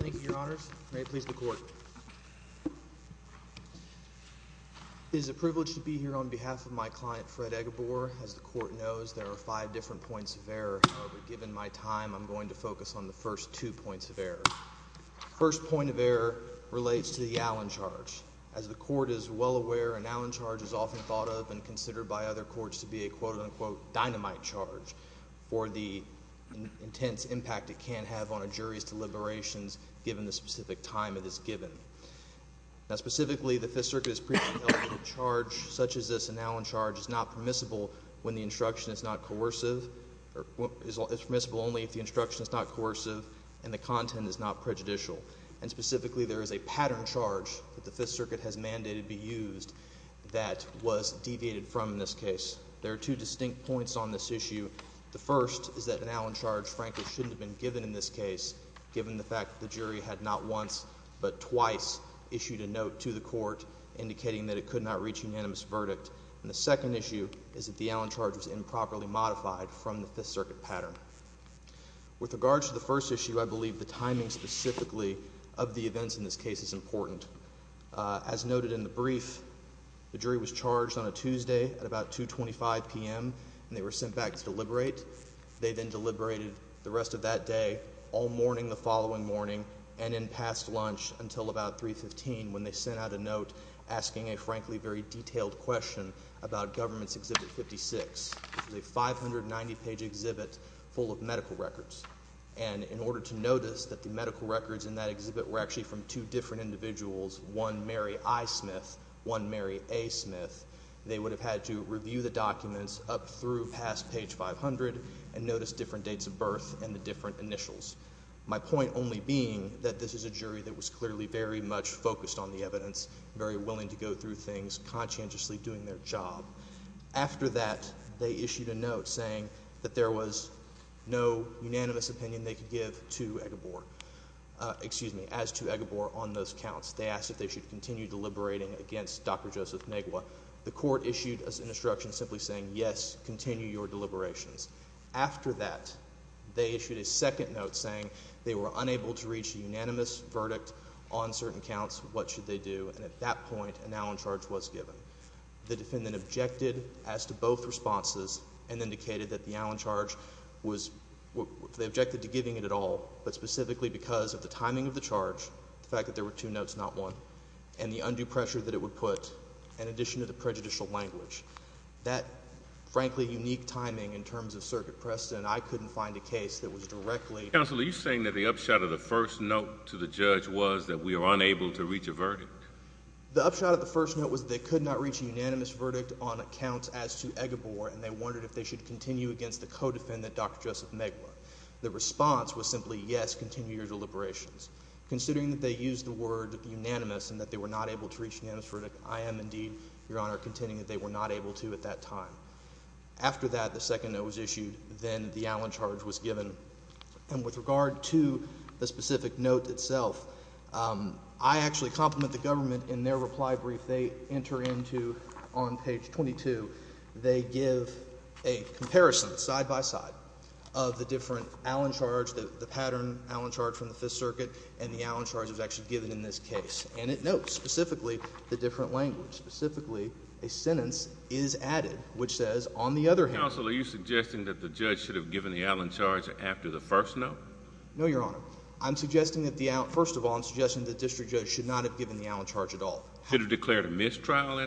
Thank you, Your Honors. May it please the Court. It is a privilege to be here on behalf of my client, Fred Eghobor. As the Court knows, there are five different points of error. However, given my time, I'm going to focus on the first two points of error. The first point of error relates to the Allen Charge. As the Court is well aware, an Allen Charge is often thought of and considered by other courts to be a quote-unquote dynamite charge for the intense impact it can have on a jury's deliberations given the specific time it is given. Specifically, the Fifth Circuit has previously held that a charge such as this Allen Charge is not permissible only if the instruction is not coercive and the content is not prejudicial. Specifically, there is a pattern charge that the Fifth Circuit has mandated be used that was deviated from in this case. There are two distinct points on this issue. The first is that an Allen Charge frankly shouldn't have been given in this case given the fact that the jury had not once but twice issued a note to the Court indicating that it could not reach unanimous verdict. And the second issue is that the Allen Charge was improperly modified from the Fifth Circuit pattern. With regards to the first issue, I believe the timing specifically of the events in this case is important. As noted in the brief, the jury was charged on a Tuesday at about 2.25 p.m. and they were sent back to deliberate. They then deliberated the rest of that day, all morning the following morning, and in past lunch until about 3.15 when they sent out a note asking a frankly very detailed question about Government's Exhibit 56, which is a 590-page exhibit full of medical records. And in order to notice that the medical records in that exhibit were actually from two different individuals, one Mary I. Smith, one Mary A. Smith, they would have had to review the documents up through past page 500 and notice different dates of birth and the different initials. My point only being that this is a jury that was clearly very much focused on the evidence, very willing to go through things, conscientiously doing their job. After that, they issued a note saying that there was no unanimous opinion they could give to Egebor. Excuse me, as to Egebor on those counts. They asked if they should continue deliberating against Dr. Joseph Negwa. The court issued an instruction simply saying, yes, continue your deliberations. After that, they issued a second note saying they were unable to reach a unanimous verdict on certain counts. What should they do? And at that point, a now in charge was given. The defendant objected as to both responses and indicated that the now in charge was, they objected to giving it at all, but specifically because of the timing of the charge, the fact that there were two notes, not one, and the undue pressure that it would put in addition to the prejudicial language. That, frankly, unique timing in terms of circuit precedent, I couldn't find a case that was directly. Counselor, are you saying that the upshot of the first note to the judge was that we were unable to reach a verdict? The upshot of the first note was that they could not reach a unanimous verdict on accounts as to Egebor and they wondered if they should continue against the co-defendant, Dr. Joseph Negwa. The response was simply, yes, continue your deliberations. Considering that they used the word unanimous and that they were not able to reach a unanimous verdict, I am indeed, Your Honor, contending that they were not able to at that time. After that, the second note was issued. Then the now in charge was given. And with regard to the specific note itself, I actually compliment the government in their reply brief they enter into on page 22. They give a comparison side-by-side of the different Allen charge, the pattern Allen charge from the Fifth Circuit, and the Allen charge that was actually given in this case. And it notes specifically the different language, specifically a sentence is added which says, Counsel, are you suggesting that the judge should have given the Allen charge after the first note? No, Your Honor. I'm suggesting that the Allen, first of all, I'm suggesting that the district judge should not have given the Allen charge at all. Should have declared a mistrial?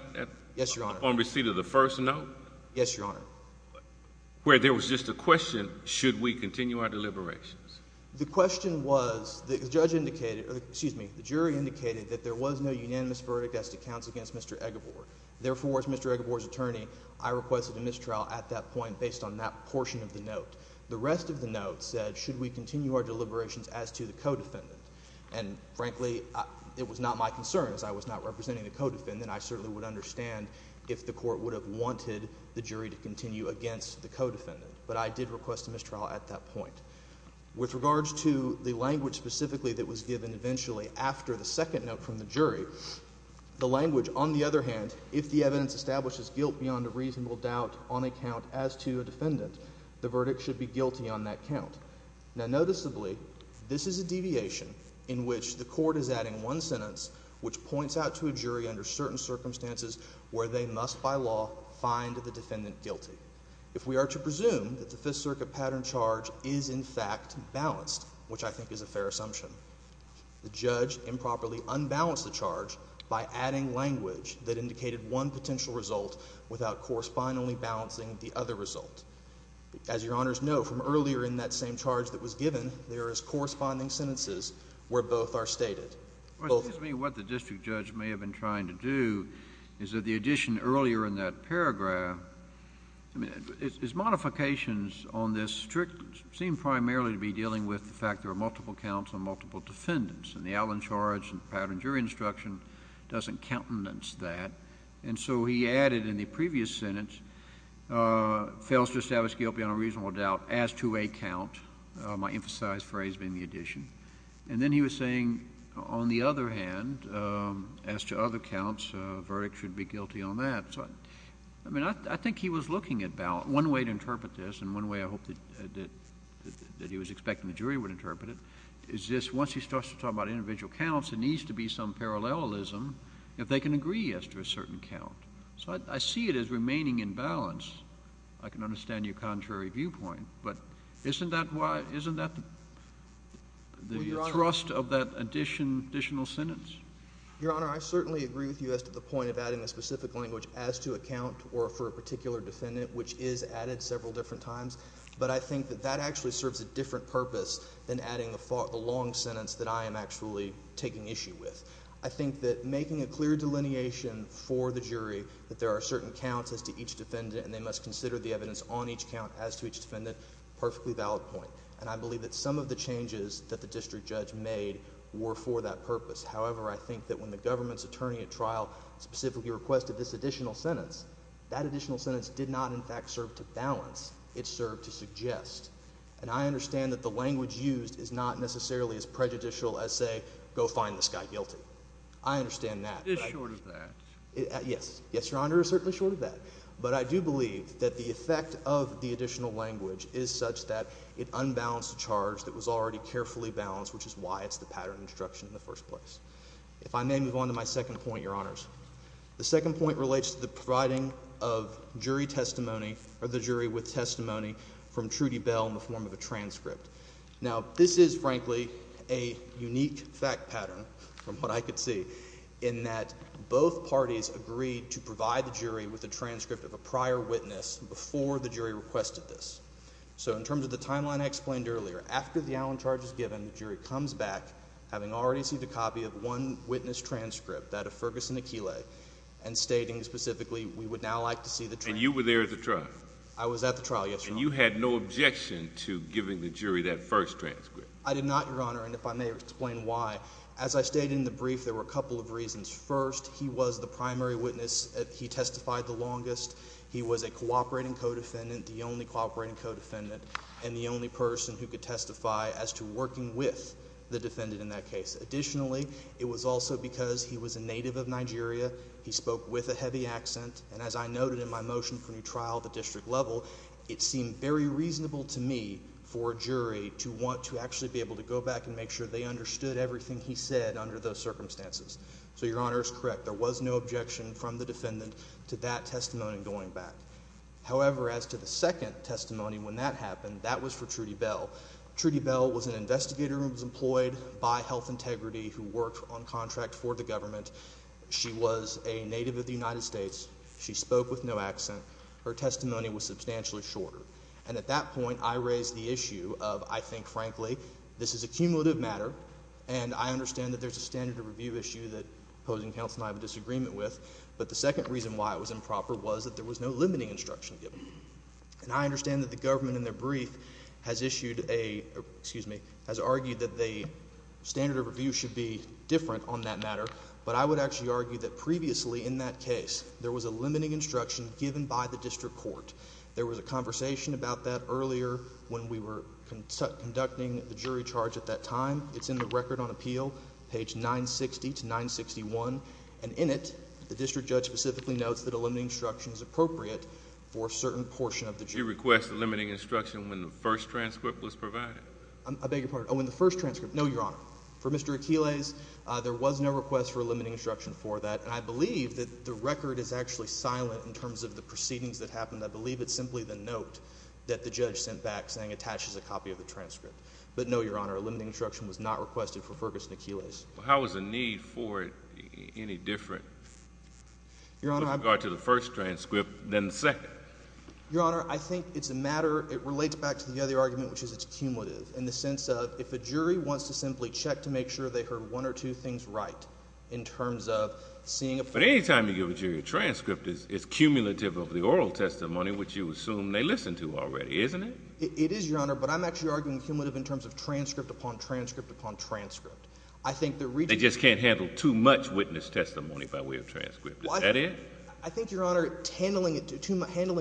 Yes, Your Honor. Upon receipt of the first note? Yes, Your Honor. Where there was just a question, should we continue our deliberations? The question was, the judge indicated, excuse me, the jury indicated that there was no unanimous verdict as to counts against Mr. Egebor. Therefore, as Mr. Egebor's attorney, I requested a mistrial at that point based on that portion of the note. The rest of the note said, should we continue our deliberations as to the co-defendant? And frankly, it was not my concern as I was not representing the co-defendant. I certainly would understand if the court would have wanted the jury to continue against the co-defendant. But I did request a mistrial at that point. With regards to the language specifically that was given eventually after the second note from the jury, the language, on the other hand, if the evidence establishes guilt beyond a reasonable doubt on a count as to a defendant, the verdict should be guilty on that count. Now, noticeably, this is a deviation in which the court is adding one sentence which points out to a jury under certain circumstances where they must, by law, find the defendant guilty. If we are to presume that the Fifth Circuit pattern charge is, in fact, balanced, which I think is a fair assumption, the judge improperly unbalanced the charge by adding language that indicated one potential result without correspondingly balancing the other result. As Your Honors know, from earlier in that same charge that was given, there is corresponding sentences where both are stated. What the district judge may have been trying to do is that the addition earlier in that paragraph, I mean, his modifications on this seem primarily to be dealing with the fact there are multiple counts on multiple defendants, and the Allen charge and the pattern jury instruction doesn't countenance that. And so he added in the previous sentence, fails to establish guilt beyond a reasonable doubt as to a count, my emphasized phrase being the addition. And then he was saying, on the other hand, as to other counts, a verdict should be guilty on that. So, I mean, I think he was looking at balance. One way to interpret this, and one way I hope that he was expecting the jury would interpret it, is this, once he starts to talk about individual counts, there needs to be some parallelism if they can agree as to a certain count. So I see it as remaining in balance. I can understand your contrary viewpoint. But isn't that the thrust of that additional sentence? Your Honor, I certainly agree with you as to the point of adding a specific language as to a count or for a particular defendant, which is added several different times. But I think that that actually serves a different purpose than adding the long sentence that I am actually taking issue with. I think that making a clear delineation for the jury that there are certain counts as to each defendant and they must consider the evidence on each count as to each defendant, a perfectly valid point. And I believe that some of the changes that the district judge made were for that purpose. However, I think that when the government's attorney at trial specifically requested this additional sentence, that additional sentence did not, in fact, serve to balance. It served to suggest. And I understand that the language used is not necessarily as prejudicial as, say, go find this guy guilty. I understand that. It is short of that. Yes. Yes, Your Honor, it is certainly short of that. But I do believe that the effect of the additional language is such that it unbalanced a charge that was already carefully balanced, which is why it is the pattern instruction in the first place. If I may move on to my second point, Your Honors. The second point relates to the providing of jury testimony or the jury with testimony from Trudy Bell in the form of a transcript. Now, this is, frankly, a unique fact pattern from what I could see in that both parties agreed to provide the jury with a transcript of a prior witness before the jury requested this. So in terms of the timeline I explained earlier, after the Allen charge is given, the jury comes back having already seen the copy of one witness transcript, that of Ferguson Aquila, and stating specifically we would now like to see the transcript. And you were there at the trial? I was at the trial, yes, Your Honor. And you had no objection to giving the jury that first transcript? I did not, Your Honor, and if I may explain why. As I stated in the brief, there were a couple of reasons. First, he was the primary witness. He testified the longest. He was a cooperating co-defendant, the only cooperating co-defendant, and the only person who could testify as to working with the defendant in that case. Additionally, it was also because he was a native of Nigeria. He spoke with a heavy accent, and as I noted in my motion for new trial at the district level, it seemed very reasonable to me for a jury to want to actually be able to go back and make sure they understood everything he said under those circumstances. So Your Honor is correct. There was no objection from the defendant to that testimony going back. However, as to the second testimony when that happened, that was for Trudy Bell. Trudy Bell was an investigator who was employed by Health Integrity who worked on contract for the government. She was a native of the United States. She spoke with no accent. Her testimony was substantially shorter. And at that point, I raised the issue of, I think, frankly, this is a cumulative matter, and I understand that there's a standard of review issue that opposing counsel and I have a disagreement with. But the second reason why it was improper was that there was no limiting instruction given. And I understand that the government in their brief has issued a, excuse me, has argued that the standard of review should be different on that matter. But I would actually argue that previously in that case, there was a limiting instruction given by the district court. There was a conversation about that earlier when we were conducting the jury charge at that time. It's in the record on appeal, page 960 to 961. And in it, the district judge specifically notes that a limiting instruction is appropriate for a certain portion of the jury. You request a limiting instruction when the first transcript was provided? I beg your pardon. Oh, in the first transcript. No, Your Honor. For Mr. Aquiles, there was no request for a limiting instruction for that. And I believe that the record is actually silent in terms of the proceedings that happened. I believe it's simply the note that the judge sent back saying attaches a copy of the transcript. But no, Your Honor, a limiting instruction was not requested for Ferguson Aquiles. How is the need for it any different with regard to the first transcript than the second? Your Honor, I think it's a matter, it relates back to the other argument, which is it's cumulative. In the sense of if a jury wants to simply check to make sure they heard one or two things right in terms of seeing a— But any time you give a jury a transcript, it's cumulative of the oral testimony, which you assume they listened to already, isn't it? It is, Your Honor, but I'm actually arguing cumulative in terms of transcript upon transcript upon transcript. I think the— They just can't handle too much witness testimony by way of transcript. Is that it? I think, Your Honor, handling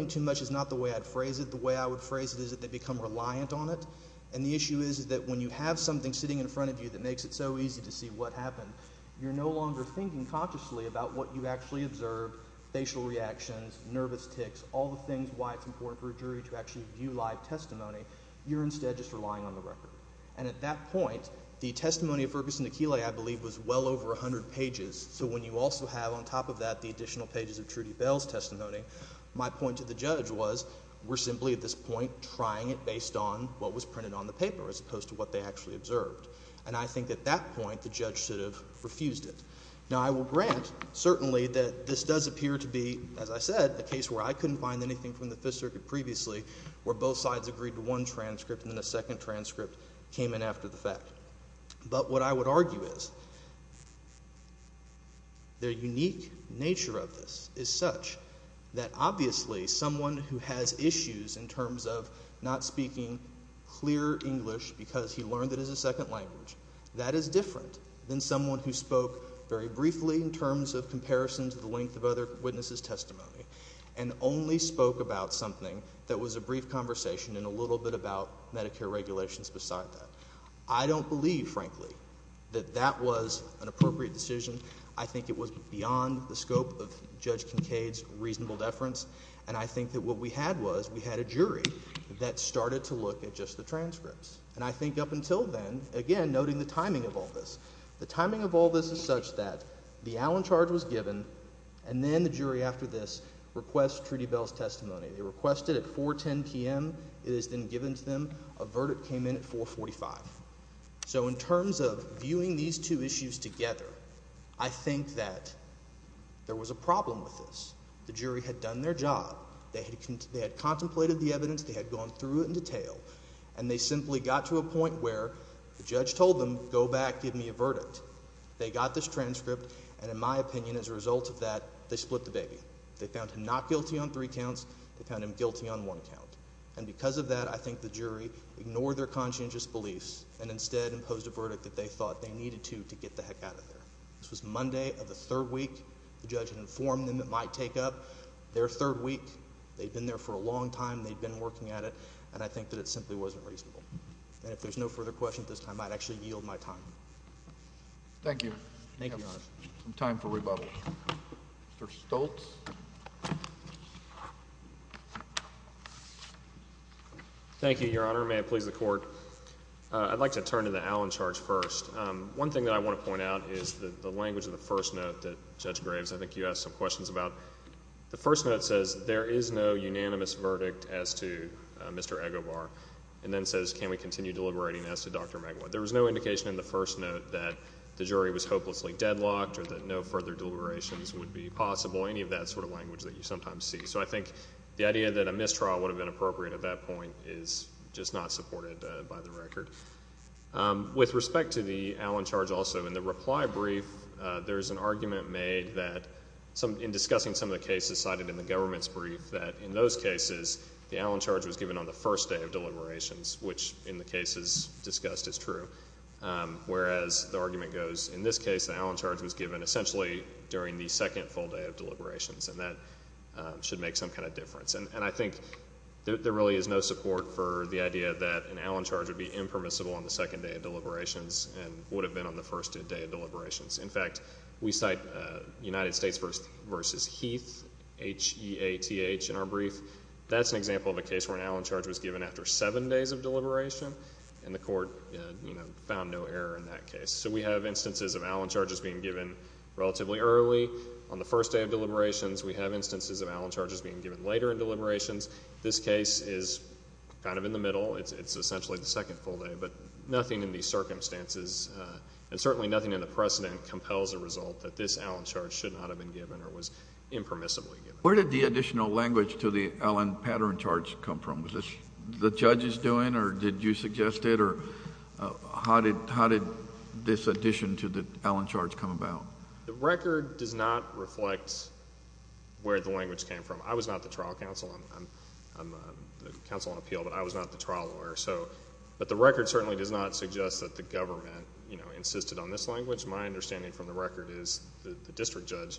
too much is not the way I'd phrase it. The way I would phrase it is that they become reliant on it. And the issue is that when you have something sitting in front of you that makes it so easy to see what happened, you're no longer thinking consciously about what you actually observed, facial reactions, nervous tics, all the things why it's important for a jury to actually view live testimony. You're instead just relying on the record. And at that point, the testimony of Ferguson Aquiles, I believe, was well over 100 pages. So when you also have on top of that the additional pages of Trudy Bell's testimony, my point to the judge was we're simply at this point trying it based on what was printed on the paper as opposed to what they actually observed. And I think at that point the judge should have refused it. Now, I will grant certainly that this does appear to be, as I said, a case where I couldn't find anything from the Fifth Circuit previously, where both sides agreed to one transcript and then a second transcript came in after the fact. But what I would argue is the unique nature of this is such that obviously someone who has issues in terms of not speaking clear English because he learned it as a second language, that is different than someone who spoke very briefly in terms of comparison to the length of other witnesses' testimony and only spoke about something that was a brief conversation and a little bit about Medicare regulations beside that. I don't believe, frankly, that that was an appropriate decision. I think it was beyond the scope of Judge Kincaid's reasonable deference. And I think that what we had was we had a jury that started to look at just the transcripts. And I think up until then, again, noting the timing of all this, the timing of all this is such that the Allen charge was given and then the jury after this requests Trudy Bell's testimony. They request it at 4.10 p.m. It is then given to them. A verdict came in at 4.45. So in terms of viewing these two issues together, I think that there was a problem with this. The jury had done their job. They had contemplated the evidence. They had gone through it in detail. And they simply got to a point where the judge told them, go back, give me a verdict. They got this transcript. And in my opinion, as a result of that, they split the baby. They found him not guilty on three counts. They found him guilty on one count. And because of that, I think the jury ignored their conscientious beliefs and instead imposed a verdict that they thought they needed to to get the heck out of there. This was Monday of the third week. The judge had informed them it might take up their third week. They'd been there for a long time. They'd been working at it. And I think that it simply wasn't reasonable. And if there's no further questions at this time, I'd actually yield my time. Thank you. Thank you, Your Honor. Time for rebuttal. Mr. Stoltz. Thank you, Your Honor. May it please the Court. I'd like to turn to the Allen charge first. One thing that I want to point out is the language of the first note that Judge Graves, I think you asked some questions about. The first note says there is no unanimous verdict as to Mr. Egobar and then says can we continue deliberating as to Dr. Maguire. There was no indication in the first note that the jury was hopelessly deadlocked or that no further deliberations would be possible, any of that sort of language that you sometimes see. So I think the idea that a mistrial would have been appropriate at that point is just not supported by the record. With respect to the Allen charge also, in the reply brief, there is an argument made that in discussing some of the cases cited in the government's brief that in those cases the Allen charge was given on the first day of deliberations, which in the cases discussed is true. Whereas the argument goes in this case the Allen charge was given essentially during the second full day of deliberations, and that should make some kind of difference. And I think there really is no support for the idea that an Allen charge would be impermissible on the second day of deliberations and would have been on the first day of deliberations. In fact, we cite United States v. Heath, H-E-A-T-H, in our brief. That's an example of a case where an Allen charge was given after seven days of deliberation, and the court found no error in that case. So we have instances of Allen charges being given relatively early on the first day of deliberations. We have instances of Allen charges being given later in deliberations. This case is kind of in the middle. It's essentially the second full day. But nothing in these circumstances, and certainly nothing in the precedent, compels a result that this Allen charge should not have been given or was impermissibly given. Where did the additional language to the Allen pattern charge come from? Was this the judge's doing, or did you suggest it, or how did this addition to the Allen charge come about? The record does not reflect where the language came from. I was not the trial counsel. I'm the counsel on appeal, but I was not the trial lawyer. But the record certainly does not suggest that the government insisted on this language. My understanding from the record is the district judge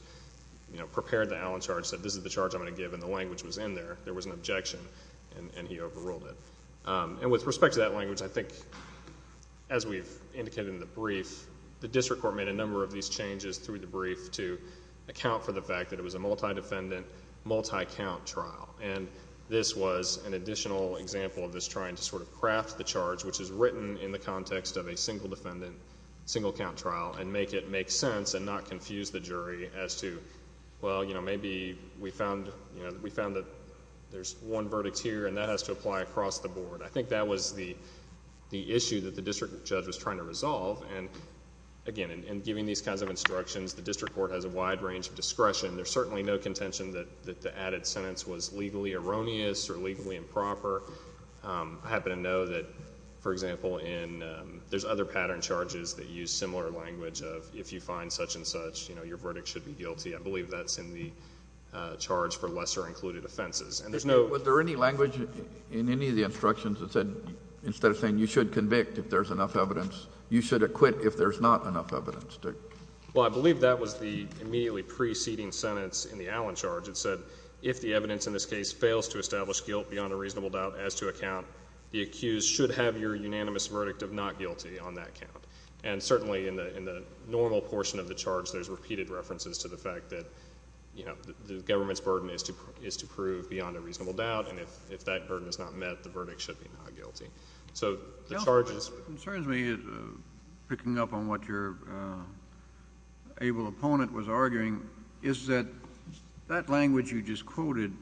prepared the Allen charge, said this is the charge I'm going to give, and the language was in there. There was an objection, and he overruled it. The district court made a number of these changes through the brief to account for the fact that it was a multi-defendant, multi-count trial, and this was an additional example of this trying to sort of craft the charge, which is written in the context of a single defendant, single count trial, and make it make sense and not confuse the jury as to, well, maybe we found that there's one verdict here, and that has to apply across the board. I think that was the issue that the district judge was trying to resolve. Again, in giving these kinds of instructions, the district court has a wide range of discretion. There's certainly no contention that the added sentence was legally erroneous or legally improper. I happen to know that, for example, there's other pattern charges that use similar language of if you find such and such, your verdict should be guilty. I believe that's in the charge for lesser included offenses. Was there any language in any of the instructions that said instead of saying you should convict if there's enough evidence, you should acquit if there's not enough evidence? Well, I believe that was the immediately preceding sentence in the Allen charge. It said if the evidence in this case fails to establish guilt beyond a reasonable doubt as to a count, the accused should have your unanimous verdict of not guilty on that count. And certainly in the normal portion of the charge, there's repeated references to the fact that the government's burden is to prove beyond a reasonable doubt, and if that burden is not met, the verdict should be not guilty. So the charge is— What concerns me, picking up on what your able opponent was arguing, is that that language you just quoted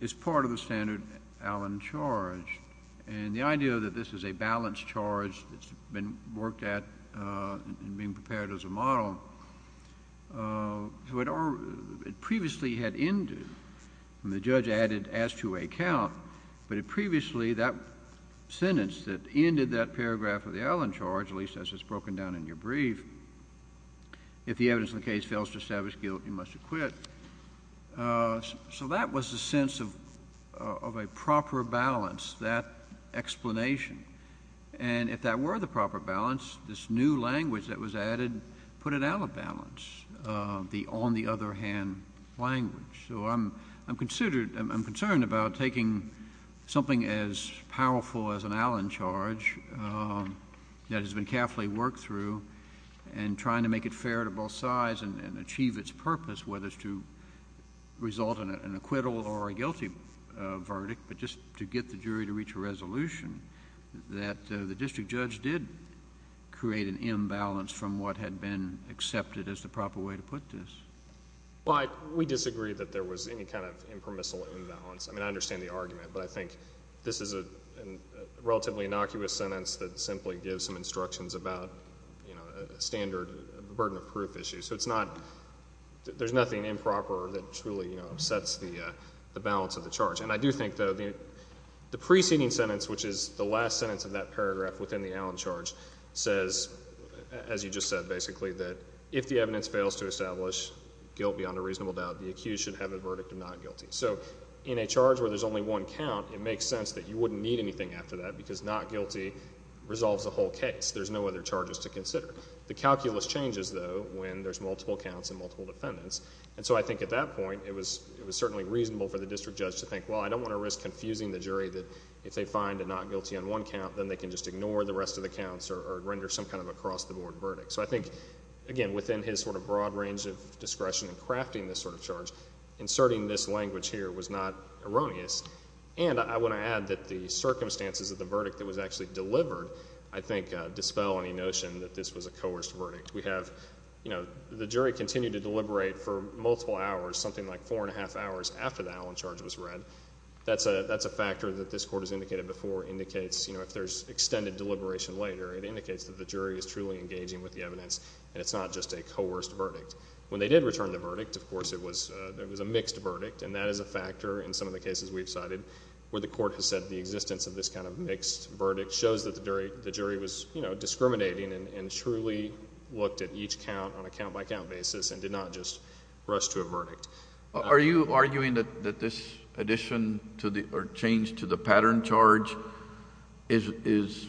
is part of the standard Allen charge, and the idea that this is a balanced charge that's been worked at and being prepared as a model, it previously had ended when the judge added as to a count, but it previously, that sentence that ended that paragraph of the Allen charge, at least as it's broken down in your brief, if the evidence in the case fails to establish guilt, you must acquit. So that was the sense of a proper balance, that explanation. And if that were the proper balance, this new language that was added put it out of balance, the on-the-other-hand language. So I'm concerned about taking something as powerful as an Allen charge that has been carefully worked through and trying to make it fair to both sides and achieve its purpose, whether it's to result in an acquittal or a guilty verdict, but just to get the jury to reach a resolution that the district judge did create an imbalance from what had been accepted as the proper way to put this. Well, we disagree that there was any kind of impermissible imbalance. I mean, I understand the argument, but I think this is a relatively innocuous sentence that simply gives some instructions about a standard burden of proof issue. So there's nothing improper that truly sets the balance of the charge. And I do think, though, the preceding sentence, which is the last sentence of that paragraph within the Allen charge, says, as you just said, basically, that if the evidence fails to establish guilt beyond a reasonable doubt, the accused should have a verdict of not guilty. So in a charge where there's only one count, it makes sense that you wouldn't need anything after that because not guilty resolves the whole case. There's no other charges to consider. The calculus changes, though, when there's multiple counts and multiple defendants. And so I think at that point it was certainly reasonable for the district judge to think, well, I don't want to risk confusing the jury that if they find a not guilty on one count, then they can just ignore the rest of the counts or render some kind of across-the-board verdict. So I think, again, within his sort of broad range of discretion in crafting this sort of charge, inserting this language here was not erroneous. And I want to add that the circumstances of the verdict that was actually delivered, I think, dispel any notion that this was a coerced verdict. We have, you know, the jury continued to deliberate for multiple hours, something like four and a half hours after the Allen charge was read. That's a factor that this court has indicated before indicates, you know, if there's extended deliberation later, it indicates that the jury is truly engaging with the evidence and it's not just a coerced verdict. When they did return the verdict, of course, it was a mixed verdict, and that is a factor in some of the cases we've cited where the court has said the existence of this kind of mixed verdict shows that the jury was, you know, discriminating and truly looked at each count on a count-by-count basis and did not just rush to a verdict. Are you arguing that this addition or change to the pattern charge is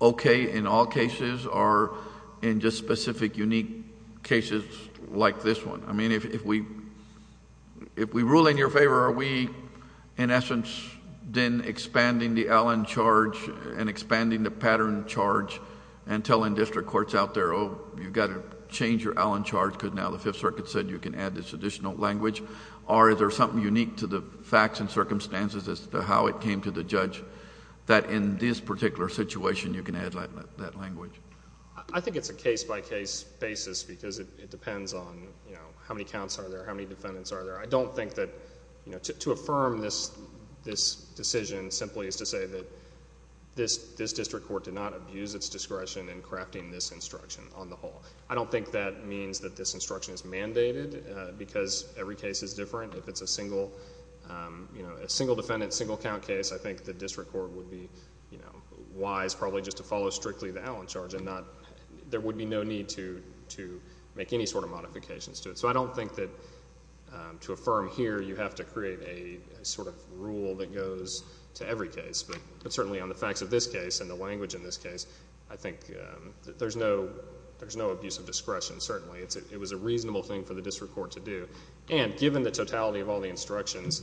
okay in all cases or in just specific unique cases like this one? I mean, if we rule in your favor, are we, in essence, then expanding the Allen charge and expanding the pattern charge and telling district courts out there, oh, you've got to change your Allen charge because now the Fifth Circuit said you can add this additional language, or is there something unique to the facts and circumstances as to how it came to the judge that in this particular situation you can add that language? I think it's a case-by-case basis because it depends on how many counts are there, how many defendants are there. I don't think that to affirm this decision simply is to say that this district court did not abuse its discretion in crafting this instruction on the whole. I don't think that means that this instruction is mandated because every case is different. If it's a single defendant, single count case, I think the district court would be wise probably just to follow strictly the Allen charge. There would be no need to make any sort of modifications to it. So I don't think that to affirm here you have to create a sort of rule that goes to every case. But certainly on the facts of this case and the language in this case, I think there's no abuse of discretion, certainly. It was a reasonable thing for the district court to do. And given the totality of all the instructions,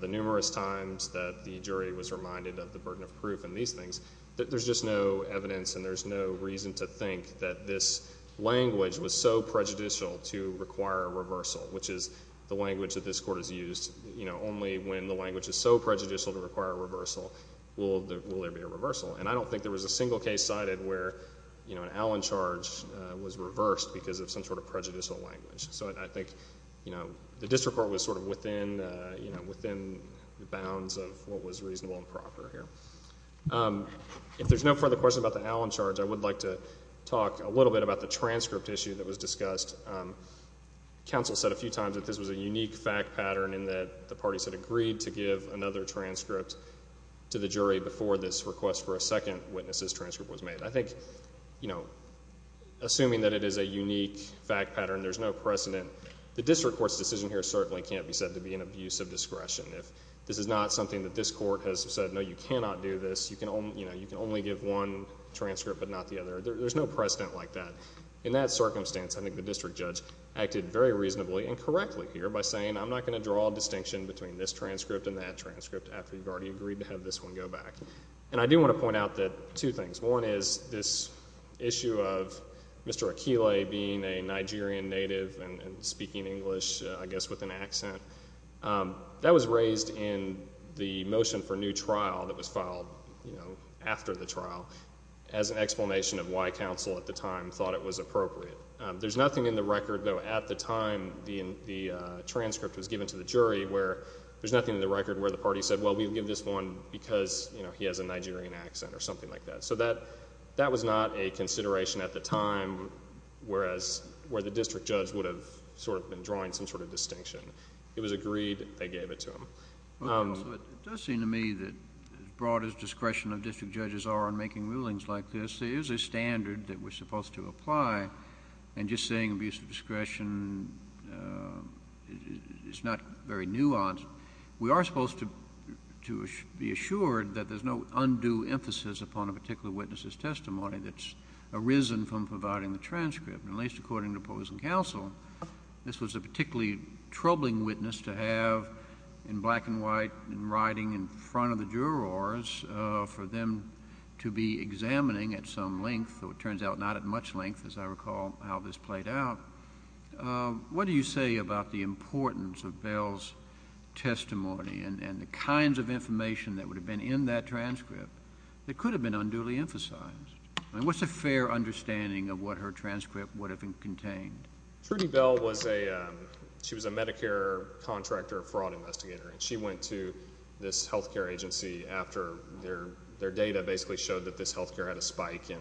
the numerous times that the jury was reminded of the burden of proof and these things, there's just no evidence and there's no reason to think that this language was so prejudicial to require a reversal, which is the language that this court has used. Only when the language is so prejudicial to require a reversal will there be a reversal. And I don't think there was a single case cited where an Allen charge was reversed because of some sort of prejudicial language. So I think the district court was sort of within the bounds of what was reasonable and proper here. If there's no further questions about the Allen charge, I would like to talk a little bit about the transcript issue that was discussed. Counsel said a few times that this was a unique fact pattern in that the parties had agreed to give another transcript to the jury before this request for a second witness's transcript was made. I think assuming that it is a unique fact pattern, there's no precedent. The district court's decision here certainly can't be said to be an abuse of discretion. If this is not something that this court has said, no, you cannot do this, you can only give one transcript but not the other. There's no precedent like that. In that circumstance, I think the district judge acted very reasonably and correctly here by saying I'm not going to draw a distinction between this transcript and that transcript after you've already agreed to have this one go back. And I do want to point out two things. One is this issue of Mr. Akile being a Nigerian native and speaking English, I guess, with an accent. That was raised in the motion for new trial that was filed after the trial as an explanation of why counsel at the time thought it was appropriate. There's nothing in the record, though, at the time the transcript was given to the jury, where there's nothing in the record where the party said, well, we'll give this one because he has a Nigerian accent or something like that. So that was not a consideration at the time where the district judge would have been drawing some sort of distinction. It was agreed. They gave it to him. It does seem to me that as broad as discretion of district judges are in making rulings like this, there is a standard that we're supposed to apply. And just saying abuse of discretion is not very nuanced. We are supposed to be assured that there's no undue emphasis upon a particular witness's testimony that's arisen from providing the transcript. At least according to opposing counsel, this was a particularly troubling witness to have in black and white and riding in front of the jurors for them to be examining at some length, though it turns out not at much length as I recall how this played out. What do you say about the importance of Bell's testimony and the kinds of information that would have been in that transcript that could have been unduly emphasized? What's a fair understanding of what her transcript would have contained? Trudy Bell was a Medicare contractor fraud investigator, and she went to this health care agency after their data basically showed that this health care had a spike in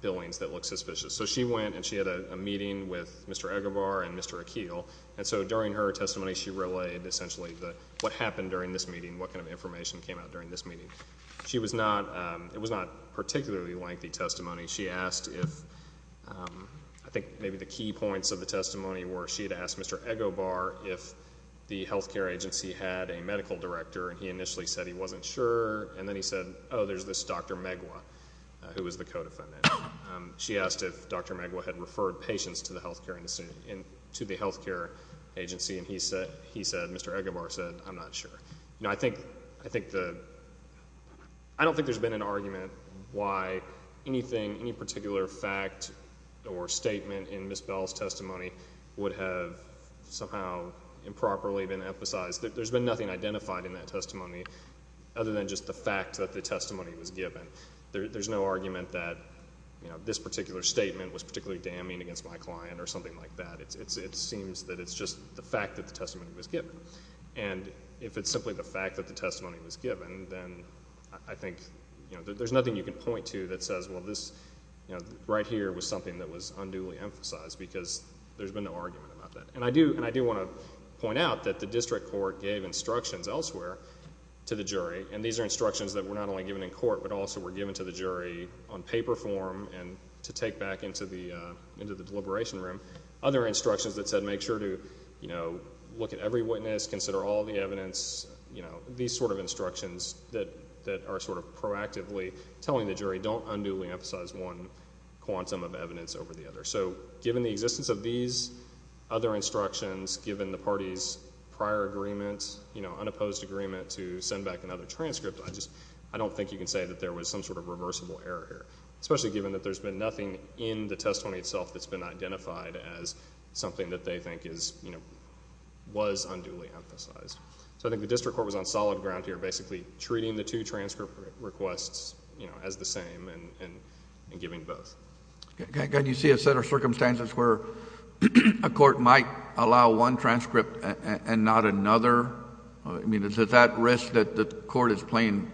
billings that looked suspicious. So she went and she had a meeting with Mr. Egobar and Mr. Akeel, and so during her testimony she relayed essentially what happened during this meeting, what kind of information came out during this meeting. It was not a particularly lengthy testimony. I think maybe the key points of the testimony were she had asked Mr. Egobar if the health care agency had a medical director, and he initially said he wasn't sure, and then he said, oh, there's this Dr. Megwa who was the co-defendant. She asked if Dr. Megwa had referred patients to the health care agency, and he said, Mr. Egobar said, I'm not sure. I don't think there's been an argument why anything, any particular fact or statement in Ms. Bell's testimony would have somehow improperly been emphasized. There's been nothing identified in that testimony other than just the fact that the testimony was given. There's no argument that this particular statement was particularly damning against my client or something like that. It seems that it's just the fact that the testimony was given. And if it's simply the fact that the testimony was given, then I think there's nothing you can point to that says, well, this right here was something that was unduly emphasized because there's been no argument about that. And I do want to point out that the district court gave instructions elsewhere to the jury, and these are instructions that were not only given in court but also were given to the jury on paper form and to take back into the deliberation room. Other instructions that said make sure to look at every witness, consider all the evidence, these sort of instructions that are sort of proactively telling the jury don't unduly emphasize one quantum of evidence over the other. So given the existence of these other instructions, given the party's prior agreement, unopposed agreement to send back another transcript, I don't think you can say that there was some sort of reversible error here, especially given that there's been nothing in the testimony itself that's been identified as something that they think was unduly emphasized. So I think the district court was on solid ground here basically treating the two transcript requests as the same and giving both. Can you see a set of circumstances where a court might allow one transcript and not another? I mean, is it at risk that the court is playing,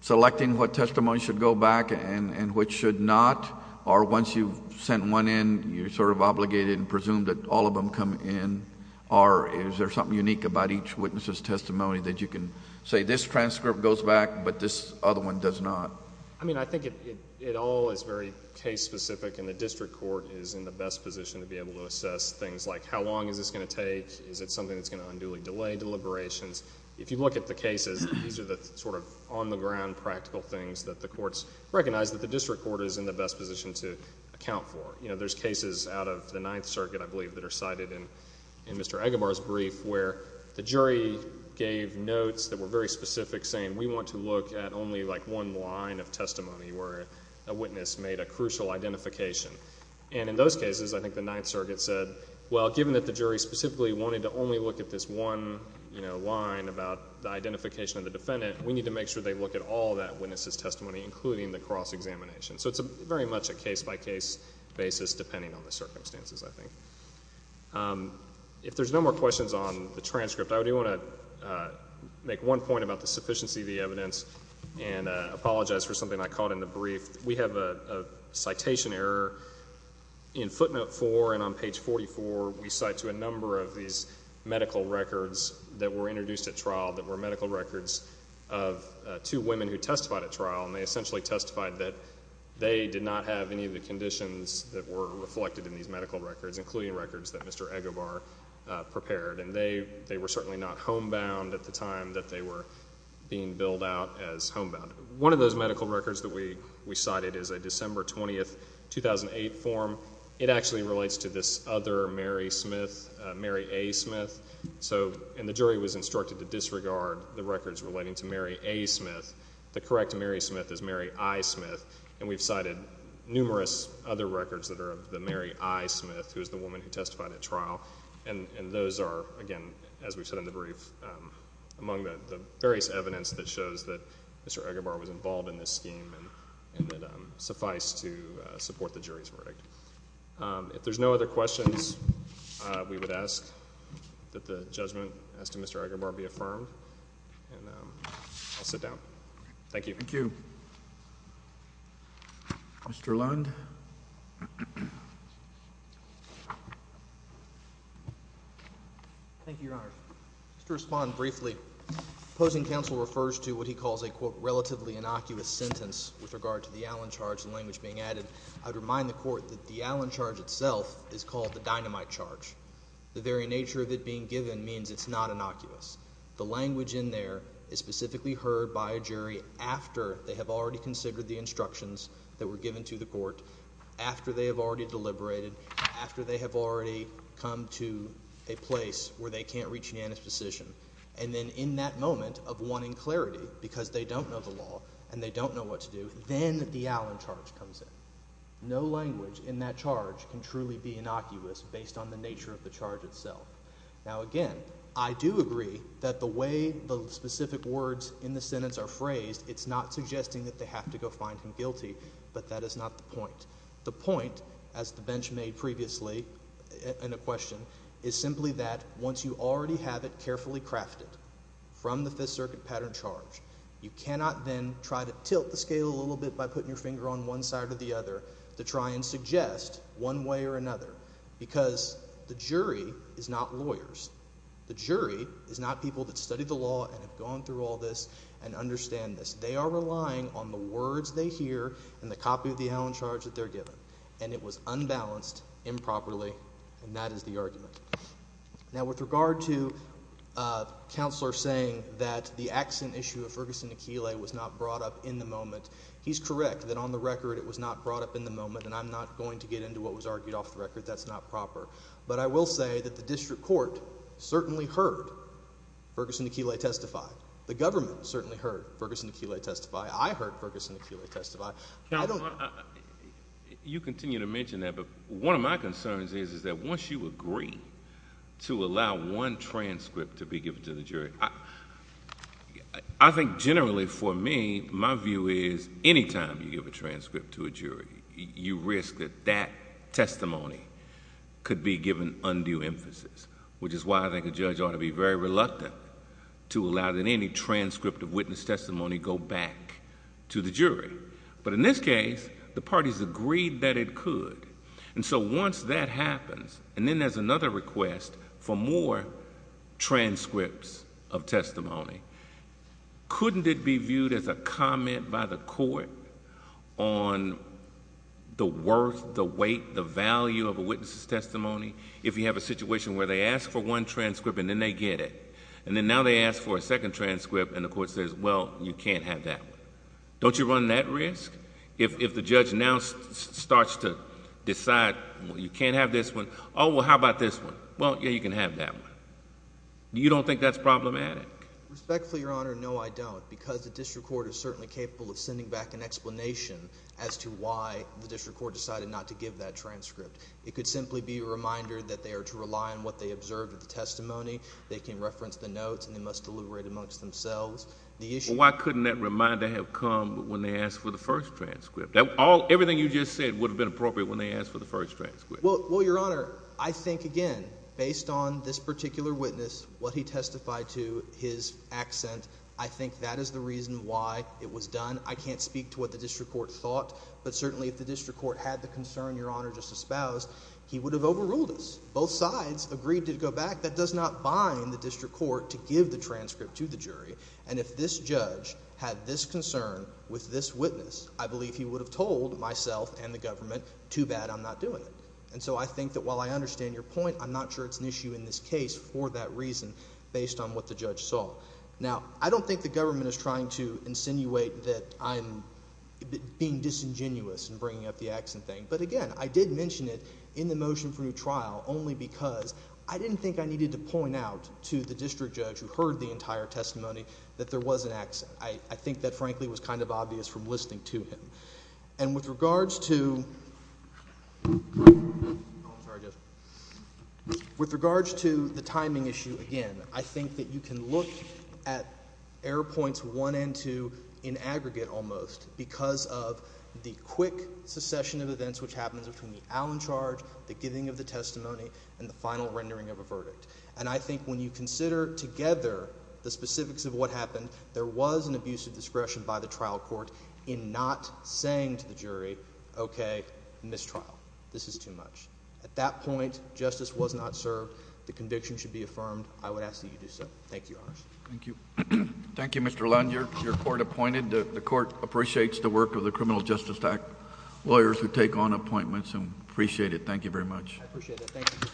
selecting what testimony should go back and which should not? Or once you've sent one in, you're sort of obligated and presumed that all of them come in? Or is there something unique about each witness's testimony that you can say this transcript goes back but this other one does not? I mean, I think it all is very case-specific and the district court is in the best position to be able to assess things like how long is this going to take? Is it something that's going to unduly delay deliberations? If you look at the cases, these are the sort of on-the-ground practical things that the courts recognize that the district court is in the best position to account for. You know, there's cases out of the Ninth Circuit, I believe, that are cited in Mr. Agubar's brief where the jury gave notes that were very specific saying we want to look at only like one line of testimony where a witness made a crucial identification. And in those cases, I think the Ninth Circuit said, well, given that the jury specifically wanted to only look at this one line about the identification of the defendant, we need to make sure they look at all that witness's testimony, including the cross-examination. So it's very much a case-by-case basis depending on the circumstances, I think. If there's no more questions on the transcript, I do want to make one point about the sufficiency of the evidence and apologize for something I caught in the brief. We have a citation error in footnote 4 and on page 44. We cite to a number of these medical records that were introduced at trial that were medical records of two women who testified at trial, and they essentially testified that they did not have any of the conditions that were reflected in these medical records, including records that Mr. Agubar prepared, and they were certainly not homebound at the time that they were being billed out as homebound. One of those medical records that we cited is a December 20, 2008, form. It actually relates to this other Mary Smith, Mary A. Smith. And the jury was instructed to disregard the records relating to Mary A. Smith. The correct Mary Smith is Mary I. Smith, and we've cited numerous other records that are of the Mary I. Smith, who is the woman who testified at trial. And those are, again, as we've said in the brief, among the various evidence that shows that Mr. Agubar was involved in this scheme and that suffice to support the jury's verdict. If there's no other questions, we would ask that the judgment as to Mr. Agubar be affirmed, and I'll sit down. Thank you. Thank you. Mr. Lund? Thank you, Your Honor. Just to respond briefly, opposing counsel refers to what he calls a, quote, relatively innocuous sentence with regard to the Allen charge and language being added. I would remind the court that the Allen charge itself is called the dynamite charge. The very nature of it being given means it's not innocuous. The language in there is specifically heard by a jury after they have already considered the instructions that were given to the court, after they have already deliberated, after they have already come to a place where they can't reach an antispecition. And then in that moment of wanting clarity because they don't know the law and they don't know what to do, then the Allen charge comes in. No language in that charge can truly be innocuous based on the nature of the charge itself. Now, again, I do agree that the way the specific words in the sentence are phrased, it's not suggesting that they have to go find him guilty, but that is not the point. The point, as the bench made previously in a question, is simply that once you already have it carefully crafted from the Fifth Circuit pattern charge, you cannot then try to tilt the scale a little bit by putting your finger on one side or the other to try and suggest one way or another because the jury is not lawyers. The jury is not people that study the law and have gone through all this and understand this. They are relying on the words they hear and the copy of the Allen charge that they're given. And it was unbalanced, improperly, and that is the argument. Now, with regard to Counselor saying that the accent issue of Ferguson Aquilae was not brought up in the moment, he's correct that on the record it was not brought up in the moment, and I'm not going to get into what was argued off the record. That's not proper. But I will say that the district court certainly heard Ferguson Aquilae testify. The government certainly heard Ferguson Aquilae testify. I heard Ferguson Aquilae testify. I don't...... to be given undue emphasis, which is why I think a judge ought to be very reluctant to allow that any transcript of witness testimony go back to the jury. But in this case, the parties agreed that it could. And so once that happens, and then there's another request for more transcripts of testimony, couldn't it be viewed as a comment by the court on the worth, the weight, the value of a witness' testimony? If you have a situation where they ask for one transcript and then they get it, and then now they ask for a second transcript and the court says, well, you can't have that one. Don't you run that risk? If the judge now starts to decide, well, you can't have this one, oh, well, how about this one? Well, yeah, you can have that one. You don't think that's problematic? Respectfully, Your Honor, no, I don't, because the district court is certainly capable of sending back an explanation as to why the district court decided not to give that transcript. It could simply be a reminder that they are to rely on what they observed in the testimony. They can reference the notes, and they must deliberate amongst themselves. Why couldn't that reminder have come when they asked for the first transcript? Everything you just said would have been appropriate when they asked for the first transcript. Well, Your Honor, I think, again, based on this particular witness, what he testified to, his accent, I think that is the reason why it was done. I can't speak to what the district court thought, but certainly if the district court had the concern Your Honor just espoused, he would have overruled us. Both sides agreed to go back. In fact, that does not bind the district court to give the transcript to the jury. And if this judge had this concern with this witness, I believe he would have told myself and the government, too bad I'm not doing it. And so I think that while I understand your point, I'm not sure it's an issue in this case for that reason based on what the judge saw. Now, I don't think the government is trying to insinuate that I'm being disingenuous in bringing up the accent thing. But again, I did mention it in the motion for new trial only because I didn't think I needed to point out to the district judge who heard the entire testimony that there was an accent. I think that frankly was kind of obvious from listening to him. And with regards to the timing issue, again, I think that you can look at error points one and two in aggregate almost because of the quick succession of events which happened between the Allen charge, the giving of the testimony, and the final rendering of a verdict. And I think when you consider together the specifics of what happened, there was an abuse of discretion by the trial court in not saying to the jury, okay, mistrial. This is too much. At that point, justice was not served. The conviction should be affirmed. I would ask that you do so. Thank you, Your Honors. Thank you. Thank you, Mr. Lund. You're court appointed. The court appreciates the work of the Criminal Justice Act lawyers who take on appointments and appreciate it. Thank you very much. I appreciate it. Thank you.